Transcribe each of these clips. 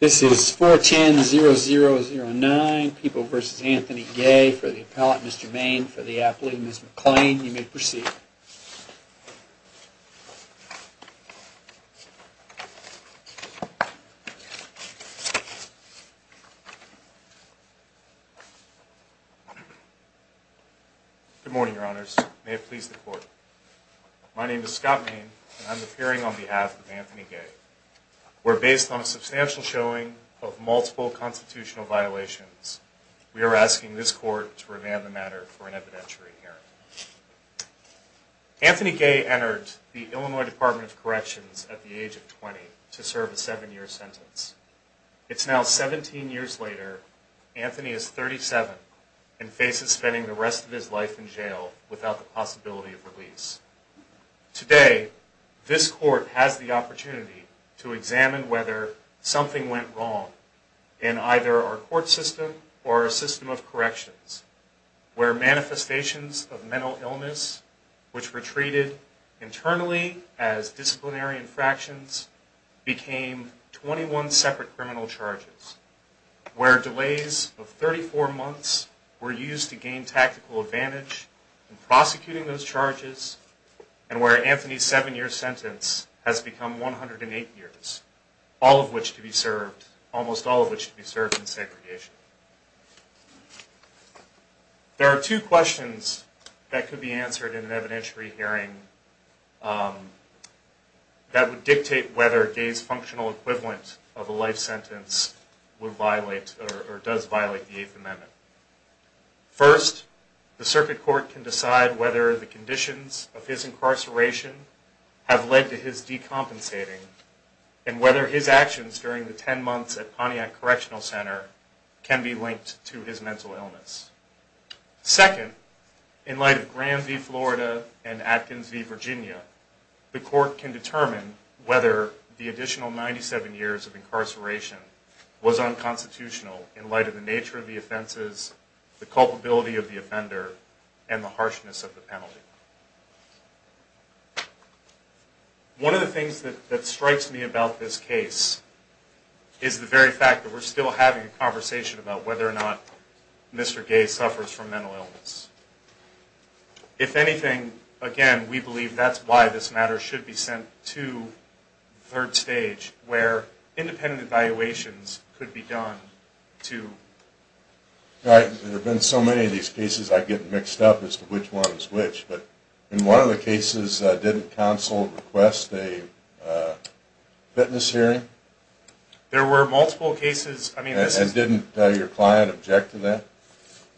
This is 410-0009, People v. Anthony Gay, for the appellate Mr. Main, for the appellate Ms. McClain. You may proceed. Good morning, Your Honors. May it please the Court. My name is Scott Main, and I'm based on a substantial showing of multiple constitutional violations. We are asking this Court to revand the matter for an evidentiary hearing. Anthony Gay entered the Illinois Department of Corrections at the age of 20 to serve a seven-year sentence. It's now 17 years later, Anthony is 37 and faces spending the rest of his life in jail without the possibility of release. Today, this Court has the opportunity to examine whether something went wrong in either our court system or our system of corrections, where manifestations of mental illness, which were treated internally as disciplinary infractions, became 21 separate criminal charges, where delays of 34 months were used to gain tactical advantage in prosecuting those charges, and where Anthony's seven-year sentence has become 108 years, all of which to be served, almost all of which to be served in segregation. There are two questions that could be answered in an evidentiary hearing that would dictate whether Gay's functional equivalent of a life sentence would violate or does violate the Eighth Amendment. First, the Circuit Court can decide whether the conditions of his incarceration have led to his decompensating and whether his actions during the 10 months at Pontiac Correctional Center can be linked to his mental illness. Second, in light of Graham v. Florida and Atkins v. Virginia, the Court can determine whether the additional 97 years of incarceration was unconstitutional in light of the nature of the offenses, the One of the things that strikes me about this case is the very fact that we're still having a conversation about whether or not Mr. Gay suffers from mental illness. If anything, again, we believe that's why this matter should be sent to the third stage, where independent evaluations could be done to... There have been so many of these cases I get mixed up as to which one is which, but in one of the cases, didn't counsel request a fitness hearing? There were multiple cases... And didn't your client object to that?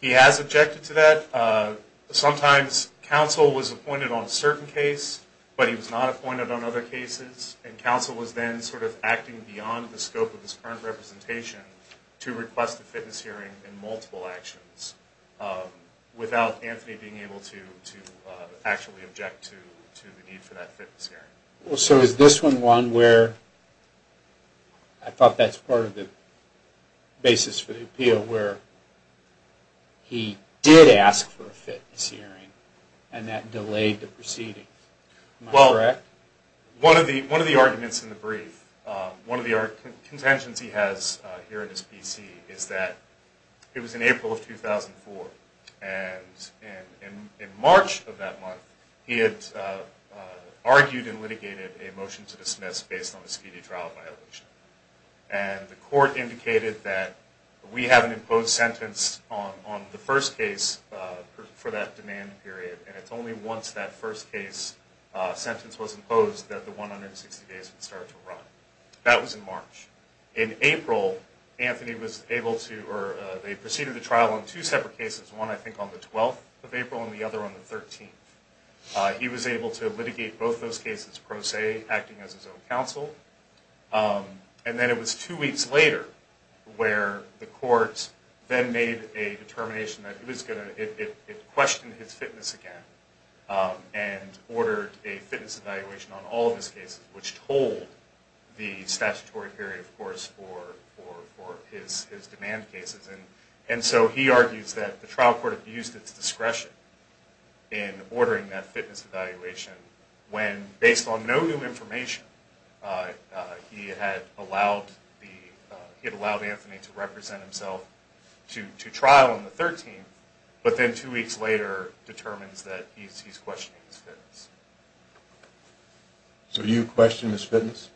He has objected to that. Sometimes counsel was appointed on a certain case, but he was not appointed on other cases, and counsel was then sort of acting beyond the scope of his current representation to request a fitness hearing in multiple actions, without Anthony being able to actually object to the need for that fitness hearing. Well, so is this one one where I thought that's part of the basis for the appeal, where he did ask for a fitness hearing, and that delayed the proceeding? Am I correct? Well, one of the arguments in the brief, one of the contingencies he has here at his PC is that it was in April of 2004, and in March of that month, he had argued and litigated a motion to dismiss based on the speedy trial violation. And the court indicated that we have an imposed sentence on the first case for that demand period, and it's only once that first case sentence was imposed that the 160 days would start to run. That was in March. In April, Anthony was able to, or they proceeded the trial on two separate cases, one I think on the 12th of April and the other on the 13th. He was able to litigate both those cases pro se, acting as his own counsel. And then it was two weeks later where the court then made a determination that he was going to, it questioned his fitness again, and ordered a fitness evaluation on all of those cases, which told the statutory period, of course, for his demand cases. And so he argues that the trial court abused its discretion in ordering that fitness evaluation when, based on no new information, he had allowed Anthony to represent himself to trial on the 13th, but then two weeks later determines that he's questioning his fitness. So you question his fitness?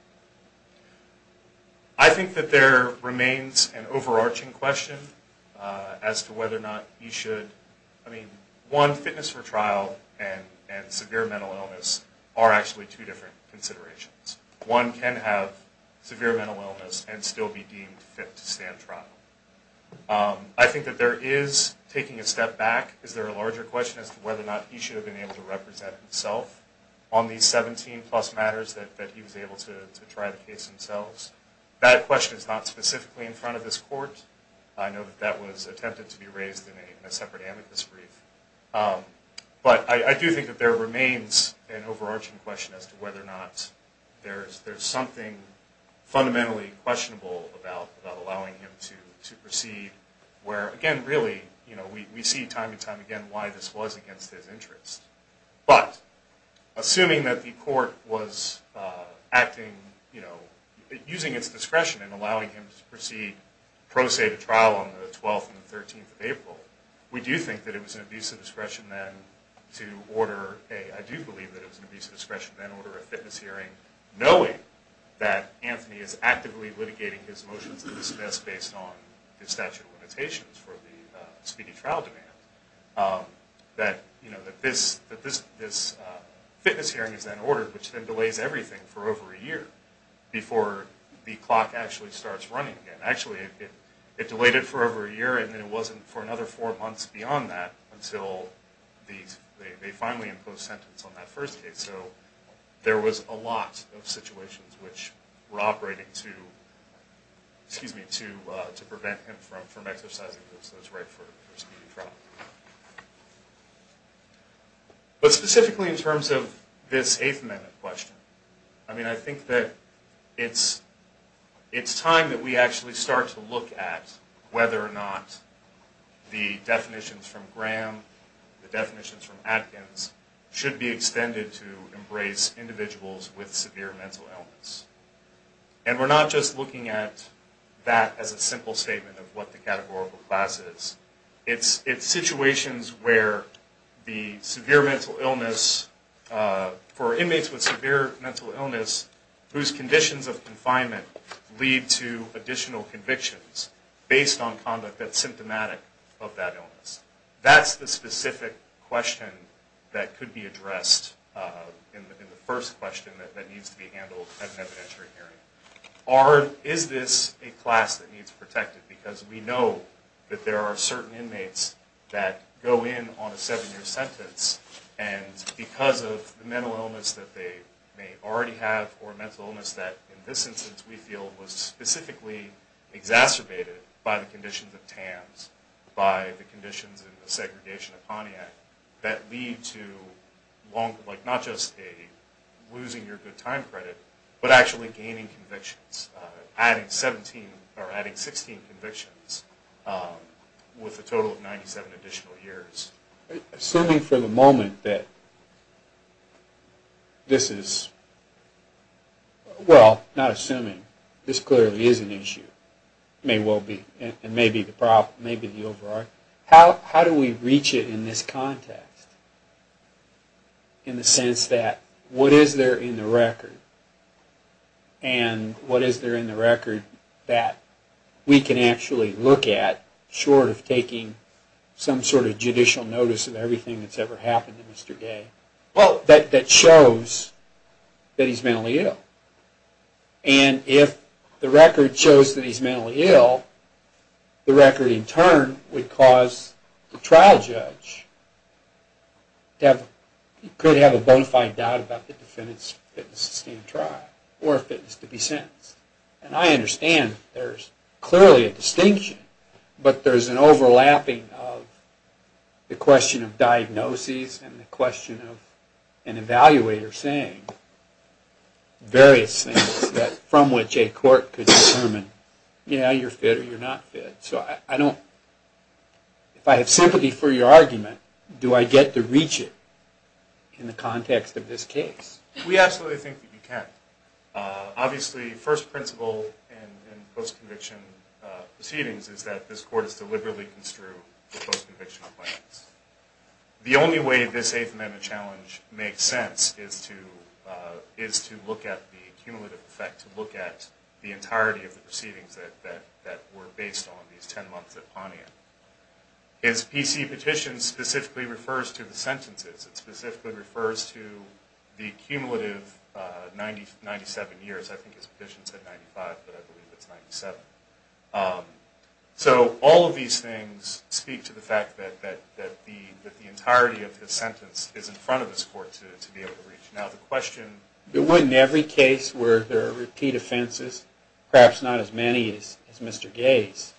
I think that there remains an overarching question as to whether or not he should, I mean, one, fitness for trial and severe mental illness are actually two different considerations. One can have severe mental illness and still be deemed fit to stand trial. I think that there is taking a step back. Is there a larger question as to whether or not he should have been able to represent himself on these 17 plus matters that he was able to try the case himself? That question is not specifically in front of this court. I know that that was attempted to be raised in a separate amicus brief. But I do think that there remains an overarching question as to whether or not there's something fundamentally questionable about allowing him to proceed where, again, really, you know, we see time and time again why this was against his interest. But assuming that the court was acting, you know, using its discretion in allowing him to proceed pro se to trial on the 12th and the 13th of April, we do think that it was an abuse of discretion then to order a, I do believe that it was an abuse of discretion then to order a fitness hearing knowing that Anthony is actively litigating his motions to dismiss based on his statute of limitations for the that, you know, that this fitness hearing is then ordered, which then delays everything for over a year before the clock actually starts running again. Actually, it delayed it for over a year and then it wasn't for another four months beyond that until they finally imposed sentence on that first case. So there was a lot of situations which were operating to, excuse me, to prevent him from exercising those rights for speedy trial. But specifically in terms of this Eighth Amendment question, I mean, I think that it's time that we actually start to look at whether or not the definitions from Graham, the definitions from Atkins should be extended to embrace individuals with severe mental illness. And we're not just looking at that as a simple statement of what the categorical class is. It's situations where the severe mental illness for inmates with severe mental illness whose conditions of confinement lead to additional convictions based on conduct that's symptomatic of that illness. That's the specific question that could be addressed in the first question that needs to be handled at an evidentiary hearing. Is this a class that needs inmates that go in on a seven-year sentence and because of the mental illness that they may already have or mental illness that in this instance we feel was specifically exacerbated by the conditions of TAMS, by the conditions in the segregation of Pontiac, that lead to long, like not just a losing your good time credit, but actually gaining convictions, adding 17 or adding 16 convictions with a total of 97 additional years? Assuming for the moment that this is, well, not assuming, this clearly is an issue, may well be, and may be the problem, may be the override. How do we reach it in this context in the sense that what is there in the record and what is there in the record that we can actually look at short of taking some sort of judicial notice of everything that's ever happened to Mr. Gay that shows that he's mentally ill? And if the record shows that he's mentally ill, the record in turn would cause the trial judge to have, could have a bonafide doubt about the defendant's fitness to stand trial or fitness to be sentenced. And I understand there's clearly a distinction, but there's an overlapping of the question of diagnoses and the question of an So I don't, if I have sympathy for your argument, do I get to reach it in the context of this case? We absolutely think that you can. Obviously, first principle in post-conviction proceedings is that this court is to liberally construe the post-conviction appliance. The only way this Eighth Amendment challenge makes sense is to look at the cumulative effect, to look at the entirety of the proceedings that were based on these 10 months at Pawneer. His PC petition specifically refers to the sentences. It specifically refers to the cumulative 97 years. I think his petition said 95, but I believe it's 97. So all of these things speak to the fact that the entirety of his sentence is in front of this court to be able to reach. Now the question... In every case where there are repeat offenses, perhaps not as many as Mr. Gay's,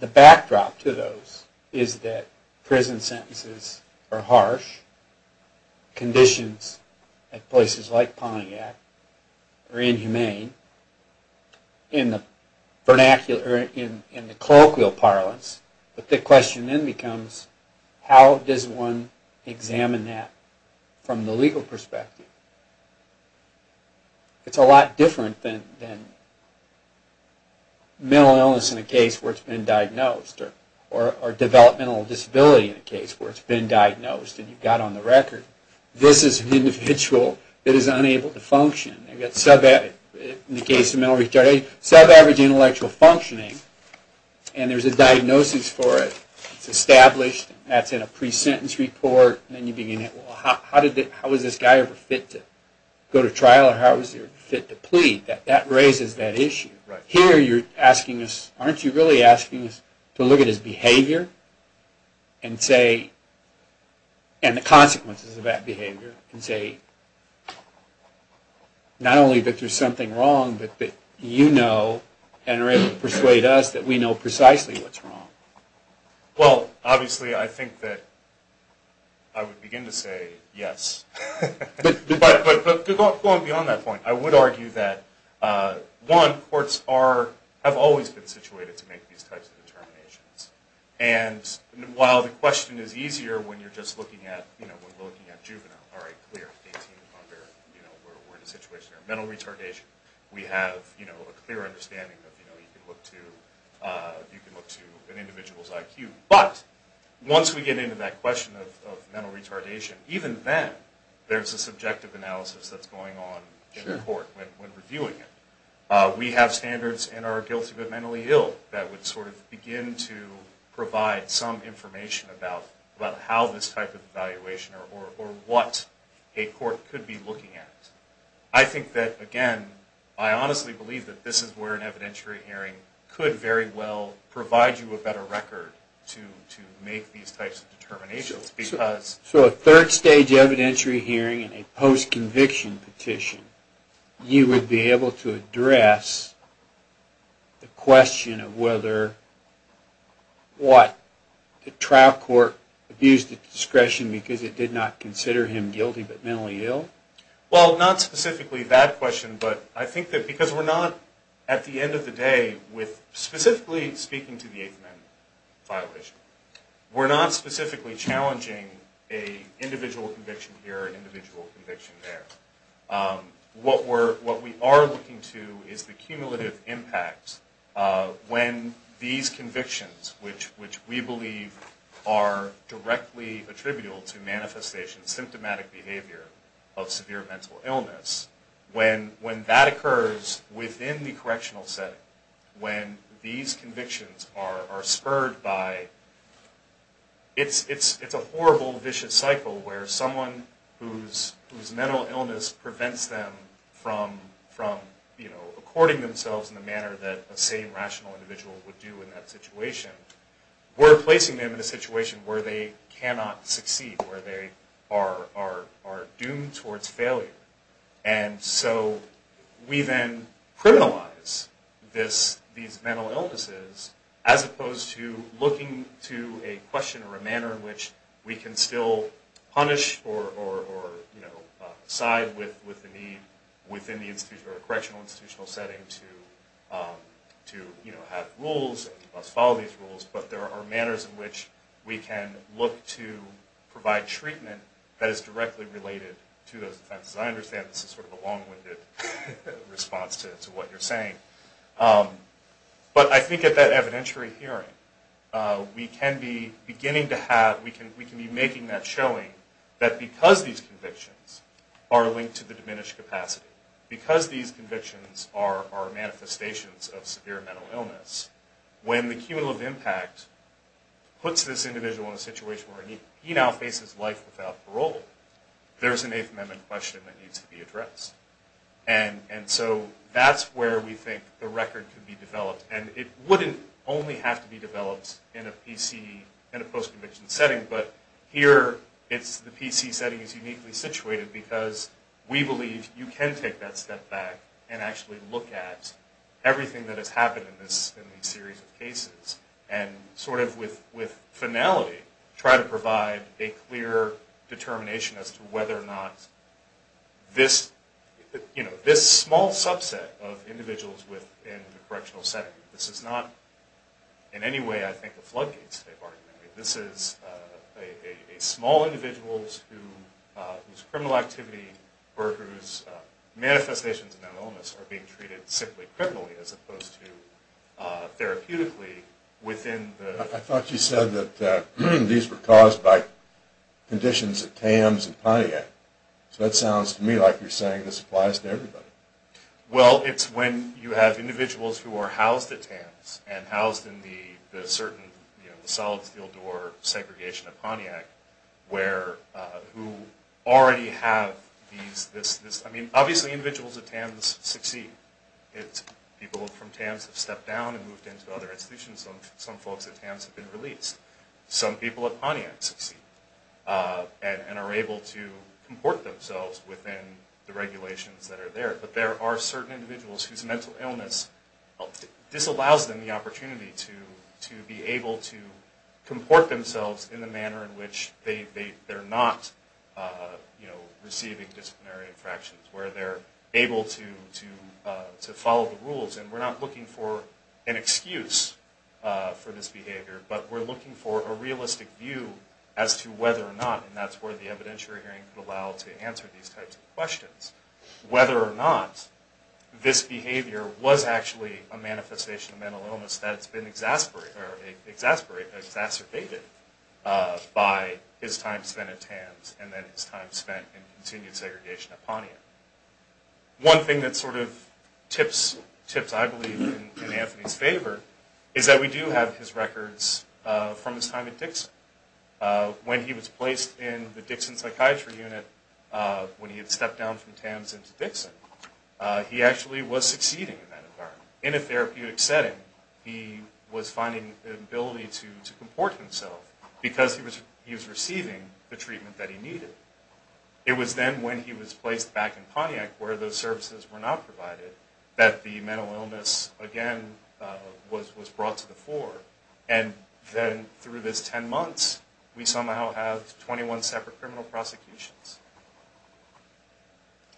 the backdrop to those is that prison sentences are harsh, conditions at places like Pawneer are inhumane in the colloquial parlance. But the question then becomes, how does one examine that from the legal perspective? It's a lot different than mental illness in a case where it's been diagnosed, or developmental disability in a case where it's been diagnosed and you've got on the record, this is an individual that is unable to function. You've got sub-average intellectual functioning, and there's a diagnosis for it. It's established, and that's in a pre-sentence report. How was this guy ever fit to go to trial, or how was he ever fit to plead? That raises that issue. Here you're asking us, aren't you really asking us to look at his behavior and say, and the consequences of that behavior, and say not only that there's something wrong, but that you know and are able to persuade us that we precisely what's wrong? Well, obviously I think that I would begin to say yes. Going beyond that point, I would argue that one, courts have always been situated to make these types of determinations. And while the question is easier when you're just looking at juvenile, all right, clear, 18 and under, we're in a situation of mental retardation. We have a clear understanding that you can look to an individual's IQ. But once we get into that question of mental retardation, even then, there's a subjective analysis that's going on in court when reviewing it. We have standards in our guilty but mentally ill that would sort of begin to provide some information about how this type of evaluation, or what a court could be where an evidentiary hearing could very well provide you a better record to make these types of determinations. So a third stage evidentiary hearing and a post-conviction petition, you would be able to address the question of whether, what, the trial court abused its discretion because it did not consider him guilty but mentally ill? Well, not specifically that question, but I think that because we're not, at the end of the day, with specifically speaking to the 8th Amendment violation, we're not specifically challenging an individual conviction here, an individual conviction there. What we are looking to is the cumulative impact when these convictions, which we believe are directly attributable to manifestation, symptomatic behavior of severe mental illness, when that occurs within the correctional setting, when these convictions are spurred by, it's a horrible, vicious cycle where someone whose mental illness prevents them from, you know, according themselves in the manner that a sane, rational individual would do in that situation, we're placing them in a situation where they cannot succeed, where they are doomed towards failure. And so we then criminalize these mental illnesses as opposed to looking to a question or a manner in which we can still punish or, you know, side with the need within the institutional or correctional institutional setting to, you know, have rules and thus follow these rules, but there are manners in which we can look to provide treatment that is directly related to those offenses. I understand this is sort of a long-winded response to what you're saying, but I think at that evidentiary hearing, we can be beginning to have, we can be making that showing that because these convictions are linked to the diminished capacity, because these convictions are manifestations of severe mental illness, when the cumulative impact puts this individual in a situation where he now faces life without parole, there's an Eighth Amendment question that needs to be addressed. And so that's where we think the record could be developed, and it wouldn't only have to be developed in a PC, in a post-conviction setting, but here it's the PC setting is uniquely situated because we believe you can take that step back and actually look at everything that has happened in this, in these series of cases, and sort of with finality, try to provide a clear determination as to whether or not this, you know, this small subset of individuals within the correctional setting, this is not in any way, I think, a floodgates this is a small individuals whose criminal activity or whose manifestations of mental illness are being treated simply criminally as opposed to therapeutically within the... I thought you said that these were caused by conditions at TAMS and Pontiac, so that sounds to me like you're saying this applies to everybody. Well, it's when you have individuals who are housed at TAMS and housed in the certain, you know, the solid steel door segregation of Pontiac where, who already have these, this, I mean, obviously individuals at TAMS succeed. It's people from TAMS have stepped down and moved into other institutions. Some folks at TAMS have been released. Some people at Pontiac succeed and are able to comport themselves within the regulations that are there, but there are certain individuals whose mental illness, this allows them the opportunity to be able to comport themselves in the manner in which they're not, you know, receiving disciplinary infractions, where they're able to follow the rules and we're not looking for an excuse for this behavior, but we're looking for a realistic view as to whether or not, and that's where the evidentiary could allow to answer these types of questions, whether or not this behavior was actually a manifestation of mental illness that's been exacerbated by his time spent at TAMS and then his time spent in continued segregation at Pontiac. One thing that sort of tips, tips I believe in Anthony's favor is that we do have his records from his time at Dixon. When he was placed in Dixon Psychiatry Unit, when he had stepped down from TAMS into Dixon, he actually was succeeding in that environment. In a therapeutic setting, he was finding the ability to comport himself because he was receiving the treatment that he needed. It was then when he was placed back in Pontiac where those services were not provided that the mental illness again was brought to the criminal prosecutions.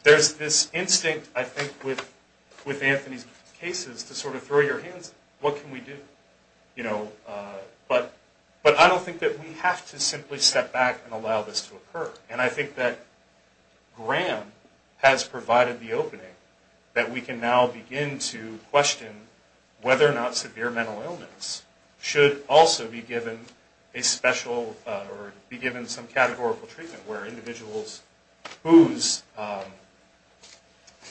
There's this instinct I think with Anthony's cases to sort of throw your hands, what can we do? But I don't think that we have to simply step back and allow this to occur. And I think that Graham has provided the opening that we can now begin to question whether or not where individuals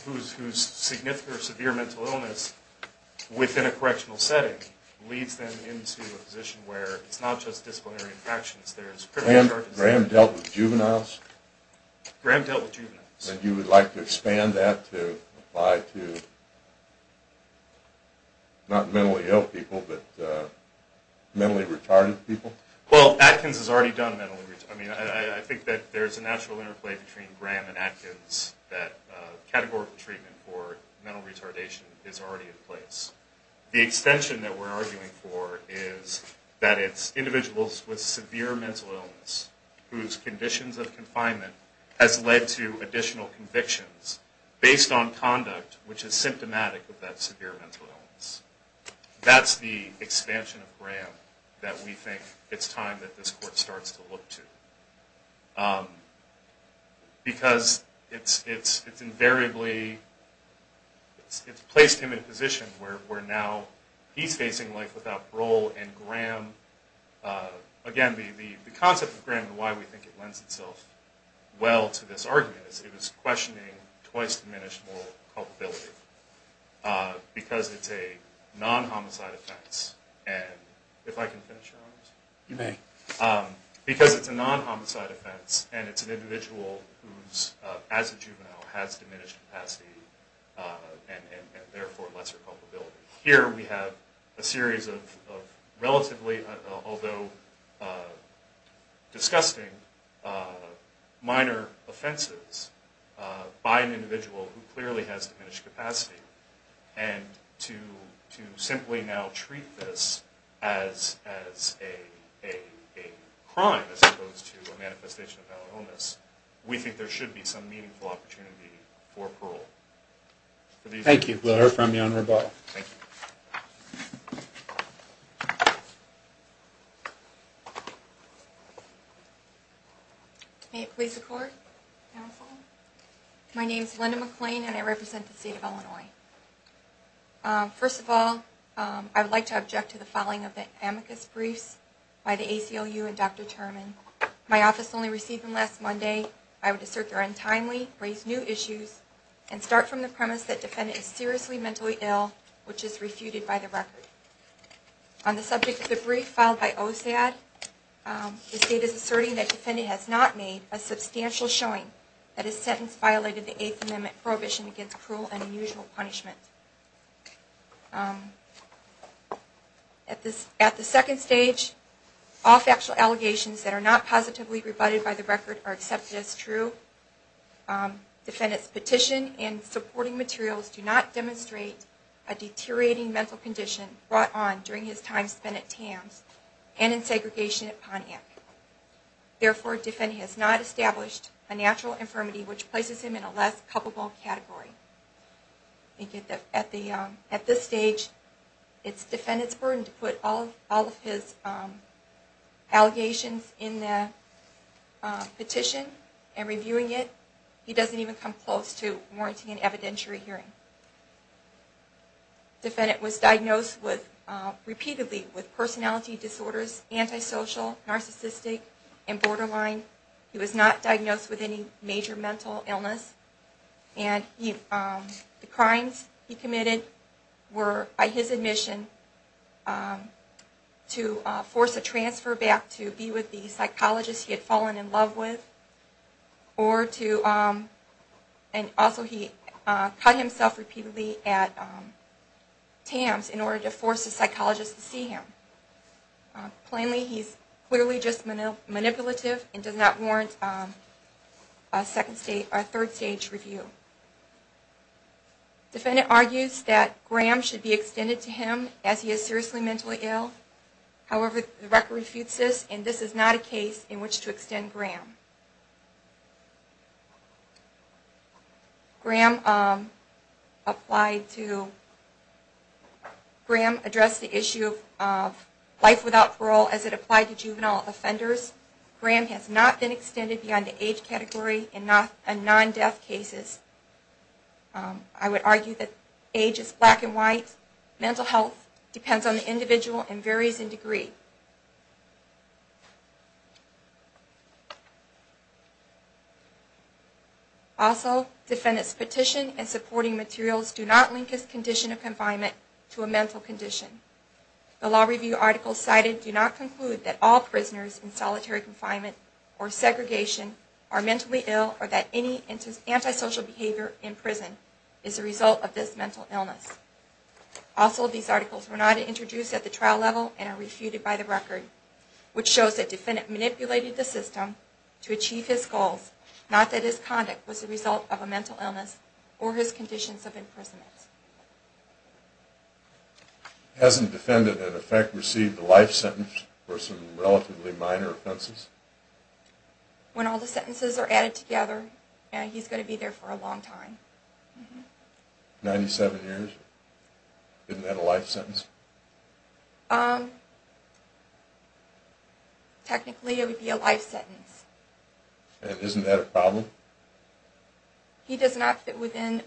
whose significant or severe mental illness within a correctional setting leads them into a position where it's not just disciplinary interactions, there's critical charges. Graham dealt with juveniles? Graham dealt with juveniles. And you would like to expand that to apply to not mentally ill people but mentally retarded people? Well, Atkins has already done mentally retarded people. I mean, I think that there's a natural interplay between Graham and Atkins that categorical treatment for mental retardation is already in place. The extension that we're arguing for is that it's individuals with severe mental illness whose conditions of confinement has led to additional convictions based on conduct which is symptomatic of that severe mental illness. That's the expansion of Graham that we think it's time that this court starts to look to. Because it's invariably, it's placed him in a position where now he's facing life without parole and Graham, again, the concept of Graham and why we think it lends itself well to this argument is it was questioning twice diminished moral culpability because it's a non-homicide offense. And if I can finish, Your Honors? You may. Because it's a non-homicide offense and it's an individual who's, as a juvenile, has diminished capacity and therefore lesser culpability. Here we have a series of relatively, although disgusting, minor offenses by an individual who clearly has diminished capacity and to simply now treat this as a crime as opposed to a manifestation of our illness, we think there should be some meaningful opportunity for parole. Thank you. We'll hear from you on rebuttal. Thank you. May it please the Court, Counsel. My name is Linda McClain and I represent the State of Illinois. First of all, I would like to object to the following of the amicus briefs by the ACLU and Dr. Terman. My office only received them last Monday. I would assert they're untimely, raise new issues, and start from the premise that defendant is seriously mentally ill, which is refuted by the record. On the subject of the brief filed by OSAD, the State is asserting that defendant has not made a substantial showing that his sentence violated the Eighth Amendment prohibition against cruel and unusual punishment. At the second stage, all factual allegations that are not positively rebutted by the record are accepted as true. Defendant's petition and supporting materials do not demonstrate a deteriorating mental condition brought on during his time spent at TAMS and in segregation at Pontiac. Therefore, defendant has not established a natural infirmity which places him in a less culpable category. At this stage, it's defendant's burden to put all of his allegations in the petition and reviewing it. He doesn't even come close to warranting an evidentiary hearing. Defendant was diagnosed repeatedly with personality disorders, antisocial, narcissistic, and borderline. He was not diagnosed with any major mental illness. The crimes he committed were, by his admission, to force a transfer back to be with the psychologist he had fallen in love with, or to cut himself repeatedly at TAMS in order to force a psychologist to see him. Plainly, he is clearly just manipulative and does not warrant a third stage review. Defendant argues that Graham should be extended to him as he is seriously mentally ill. However, the record refutes this and this is not a case in which to extend Graham. Graham addressed the issue of life without parole as it applied to juvenile offenders. Graham has not been extended beyond the age category in non-death cases. I would argue that age is black and white, mental health depends on the individual, and varies in degree. Also, defendant's petition and supporting materials do not link his condition of confinement to a mental condition. The law review articles cited do not conclude that all prisoners in solitary confinement or segregation are mentally ill or that any antisocial behavior in prison is a result of this mental illness. Also, these articles were not introduced at the trial level and are refuted by the record, which shows that defendant manipulated the system to achieve his goals, not that his conduct was a result of a mental illness or his conditions of imprisonment. Hasn't defendant in effect received a life sentence for some relatively minor offenses? When all the sentences are added together, he's going to be there for a long time. 97 years, isn't that a life sentence? Technically it would be a life sentence. And isn't that a problem? He does not fit within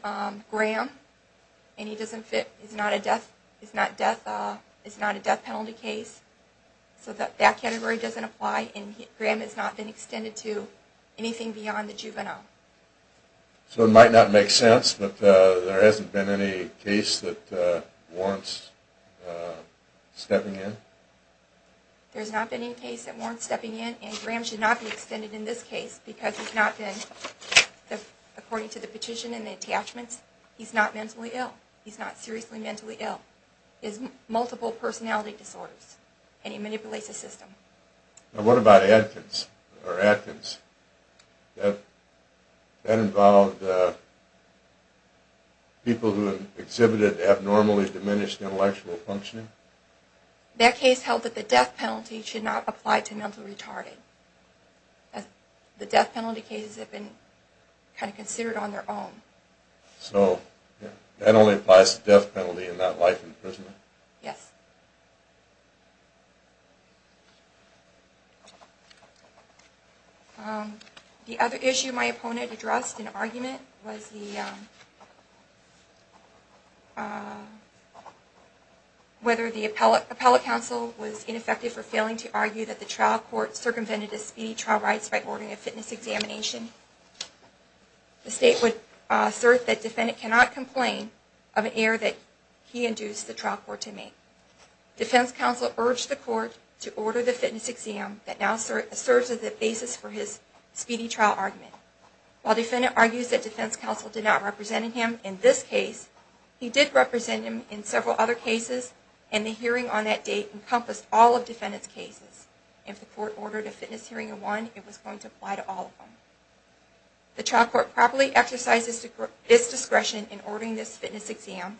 Graham and he doesn't fit, it's not a death penalty case, so that category doesn't apply and Graham has not been extended to anything beyond the juvenile. So it might not make sense, but there hasn't been any case that warrants stepping in? There's not been any case that warrants stepping in and Graham should not be extended in this case because he's not been, according to the petition and the attachments, he's not mentally ill, he's not seriously mentally ill, he has multiple personality disorders and he manipulates the system. What about Atkins? That involved people who exhibited abnormally diminished intellectual functioning? That case held that the death penalty should not apply to mentally retarded. The death penalty cases have been kind of considered on their own. So that only applies to death penalty and not life imprisonment? Yes. The other issue my opponent addressed in argument was whether the appellate counsel was ineffective for failing to argue that the trial court circumvented his speedy trial rights by ordering a fitness examination. The state would assert that the defendant cannot complain of an error that he induced the trial court to make. Defense counsel urged the court to order the fitness examination that now serves as the basis for his speedy trial argument. While the defendant argues that defense counsel did not represent him in this case, he did represent him in several other cases and the hearing on that date encompassed all of the defendant's cases. If the court ordered a fitness hearing in one it was going to apply to all of them. The trial court properly exercised its discretion in ordering this fitness exam.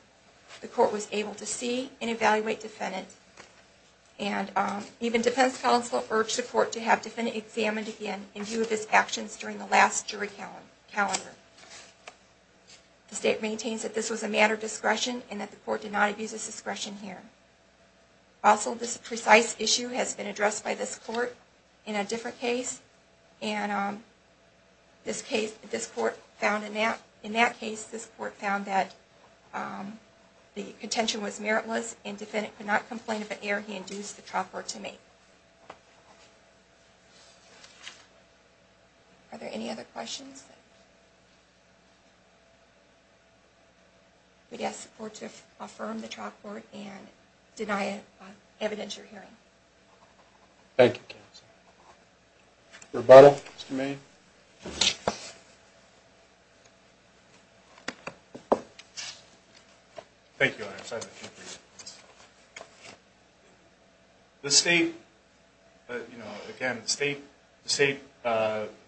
The court was able to see and evaluate the defendant and even defense counsel urged the court to have defendant examined again in view of his actions during the last jury calendar. The state maintains that this was a matter of discretion and that the court did not abuse its discretion here. Also this precise issue has been addressed by this court in a different case and in that case this court found that the contention was meritless and defendant could not complain of an error he induced the trial court to make. Are there any other questions? We'd ask support to affirm the trial court and deny it on evidence you're hearing. Thank you counsel. Rebuttal, Mr. Mayne. Thank you, I have a few brief questions. The state, you know, again the state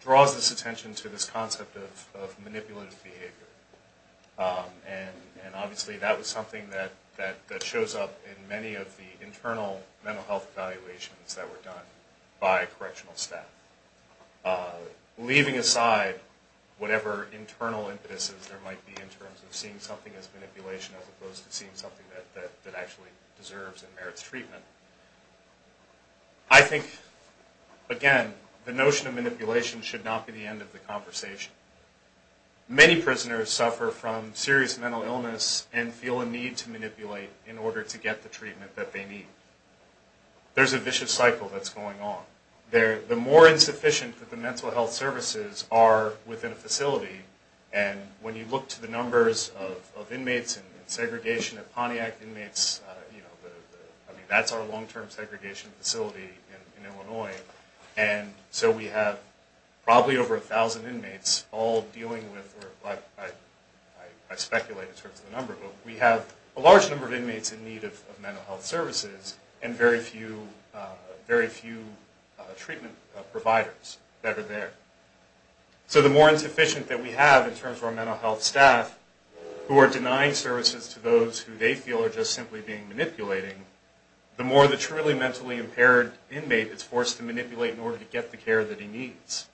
draws this attention to this concept of manipulative behavior and obviously that was something that shows up in many of the internal mental health evaluations that were done by correctional staff. Whatever internal impetuses there might be in terms of seeing something as manipulation as opposed to seeing something that actually deserves and merits treatment. I think again the notion of manipulation should not be the end of the conversation. Many prisoners suffer from serious mental illness and feel a need to manipulate in order to get the treatment that they need. There's a vicious cycle that's going on. The more insufficient that the mental health services are within a facility and when you look to the numbers of inmates and segregation of Pontiac inmates, I mean that's our long-term segregation facility in Illinois. And so we have probably over a thousand inmates all dealing with, I speculate in terms of the number, but we have a large number of inmates in need of mental health services and very few treatment providers that are there. So the more insufficient that we have in terms of our mental health staff who are denying services to those who they feel are just simply being manipulating, the more the truly mentally impaired inmate is forced to manipulate in order to get the care that he needs.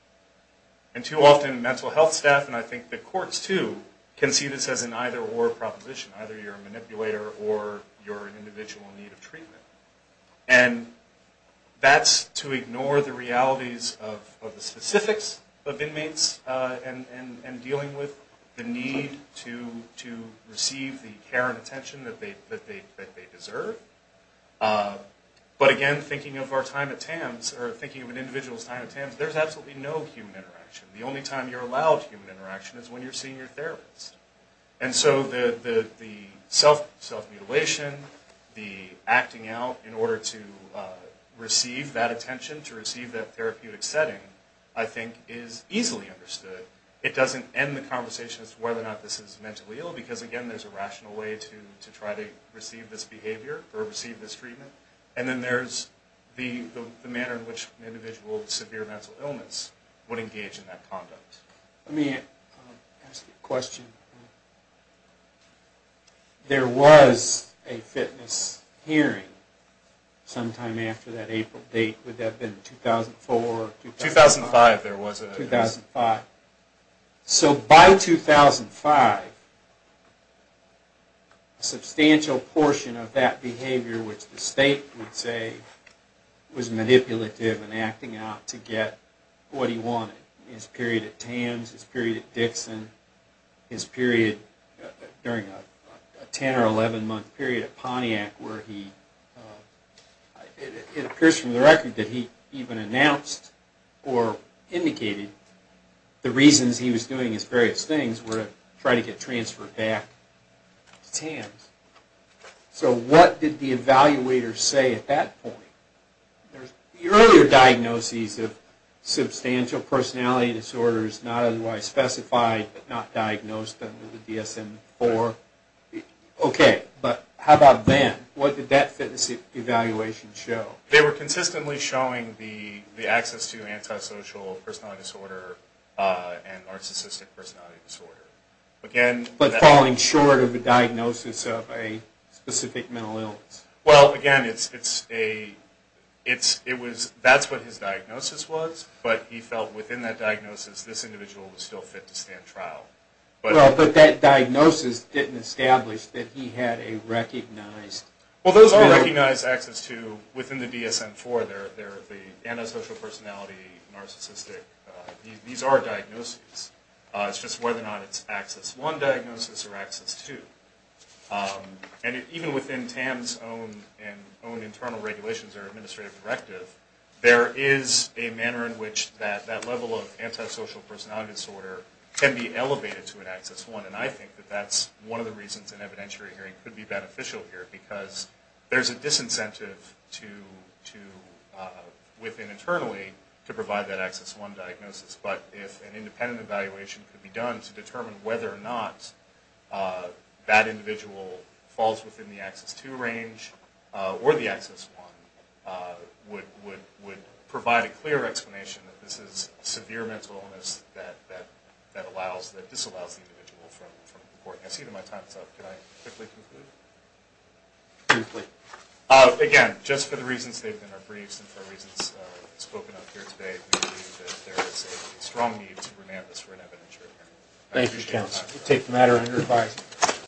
And too often mental health staff and I think the courts too can see this as an either-or proposition, and that's to ignore the realities of the specifics of inmates and dealing with the need to receive the care and attention that they deserve. But again, thinking of our time at TAMS, or thinking of an individual's time at TAMS, there's absolutely no human interaction. The only time you're allowed human interaction is when you're seeing your therapist. And so the self-mutilation, the acting out in order to receive that attention, to receive that therapeutic setting, I think is easily understood. It doesn't end the conversation as to whether or not this is mentally ill, because again there's a rational way to try to receive this behavior or receive this treatment. And then there's the manner in which an individual with severe mental illness would engage in that conduct. Let me ask a question. There was a fitness hearing sometime after that April date. Would that have been 2004 or 2005? 2005 there was. So by 2005, a substantial portion of that behavior, which the state would say was manipulative and acting out to get what he wanted. His period at TAMS, his period at Dixon, his period during a 10 or 11 month period at Pontiac, where it appears from the record that he even announced or indicated the reasons he was doing his various things were to try to get transferred back to TAMS. So what did the evaluator say at that point? There's the earlier diagnoses of substantial personality disorders, not otherwise specified, but not diagnosed under the DSM-IV. Okay, but how about then? What did that fitness evaluation show? They were consistently showing the access to antisocial personality disorder and narcissistic personality disorder. But falling short of a diagnosis of a specific mental illness. Well, again, that's what his diagnosis was, but he felt within that diagnosis, this individual was still fit to stand trial. But that diagnosis didn't establish that he had a recognized... Well, those are recognized access to, within the DSM-IV, they're the antisocial personality, narcissistic. These are diagnoses. It's just whether or not it's access one diagnosis or access two. And even within TAMS' own internal regulations or administrative directive, there is a manner in which that level of antisocial personality disorder can be elevated to an access one. And I think that that's one of the reasons an evidentiary hearing could be beneficial here, because there's a disincentive within internally to provide that access one diagnosis. But if an independent evaluation could be done to determine whether or not that individual falls within the access two range or the access one, would provide a clear explanation that this is a severe mental illness that disallows the individual from reporting. I see that my time's up. Can I quickly conclude? Briefly. Again, just for the reasons they've been our briefs and for reasons spoken up here today, we believe that there is a strong need to remand this for an evidentiary hearing. Thank you, Mr. Chancellor. We take the matter under revised.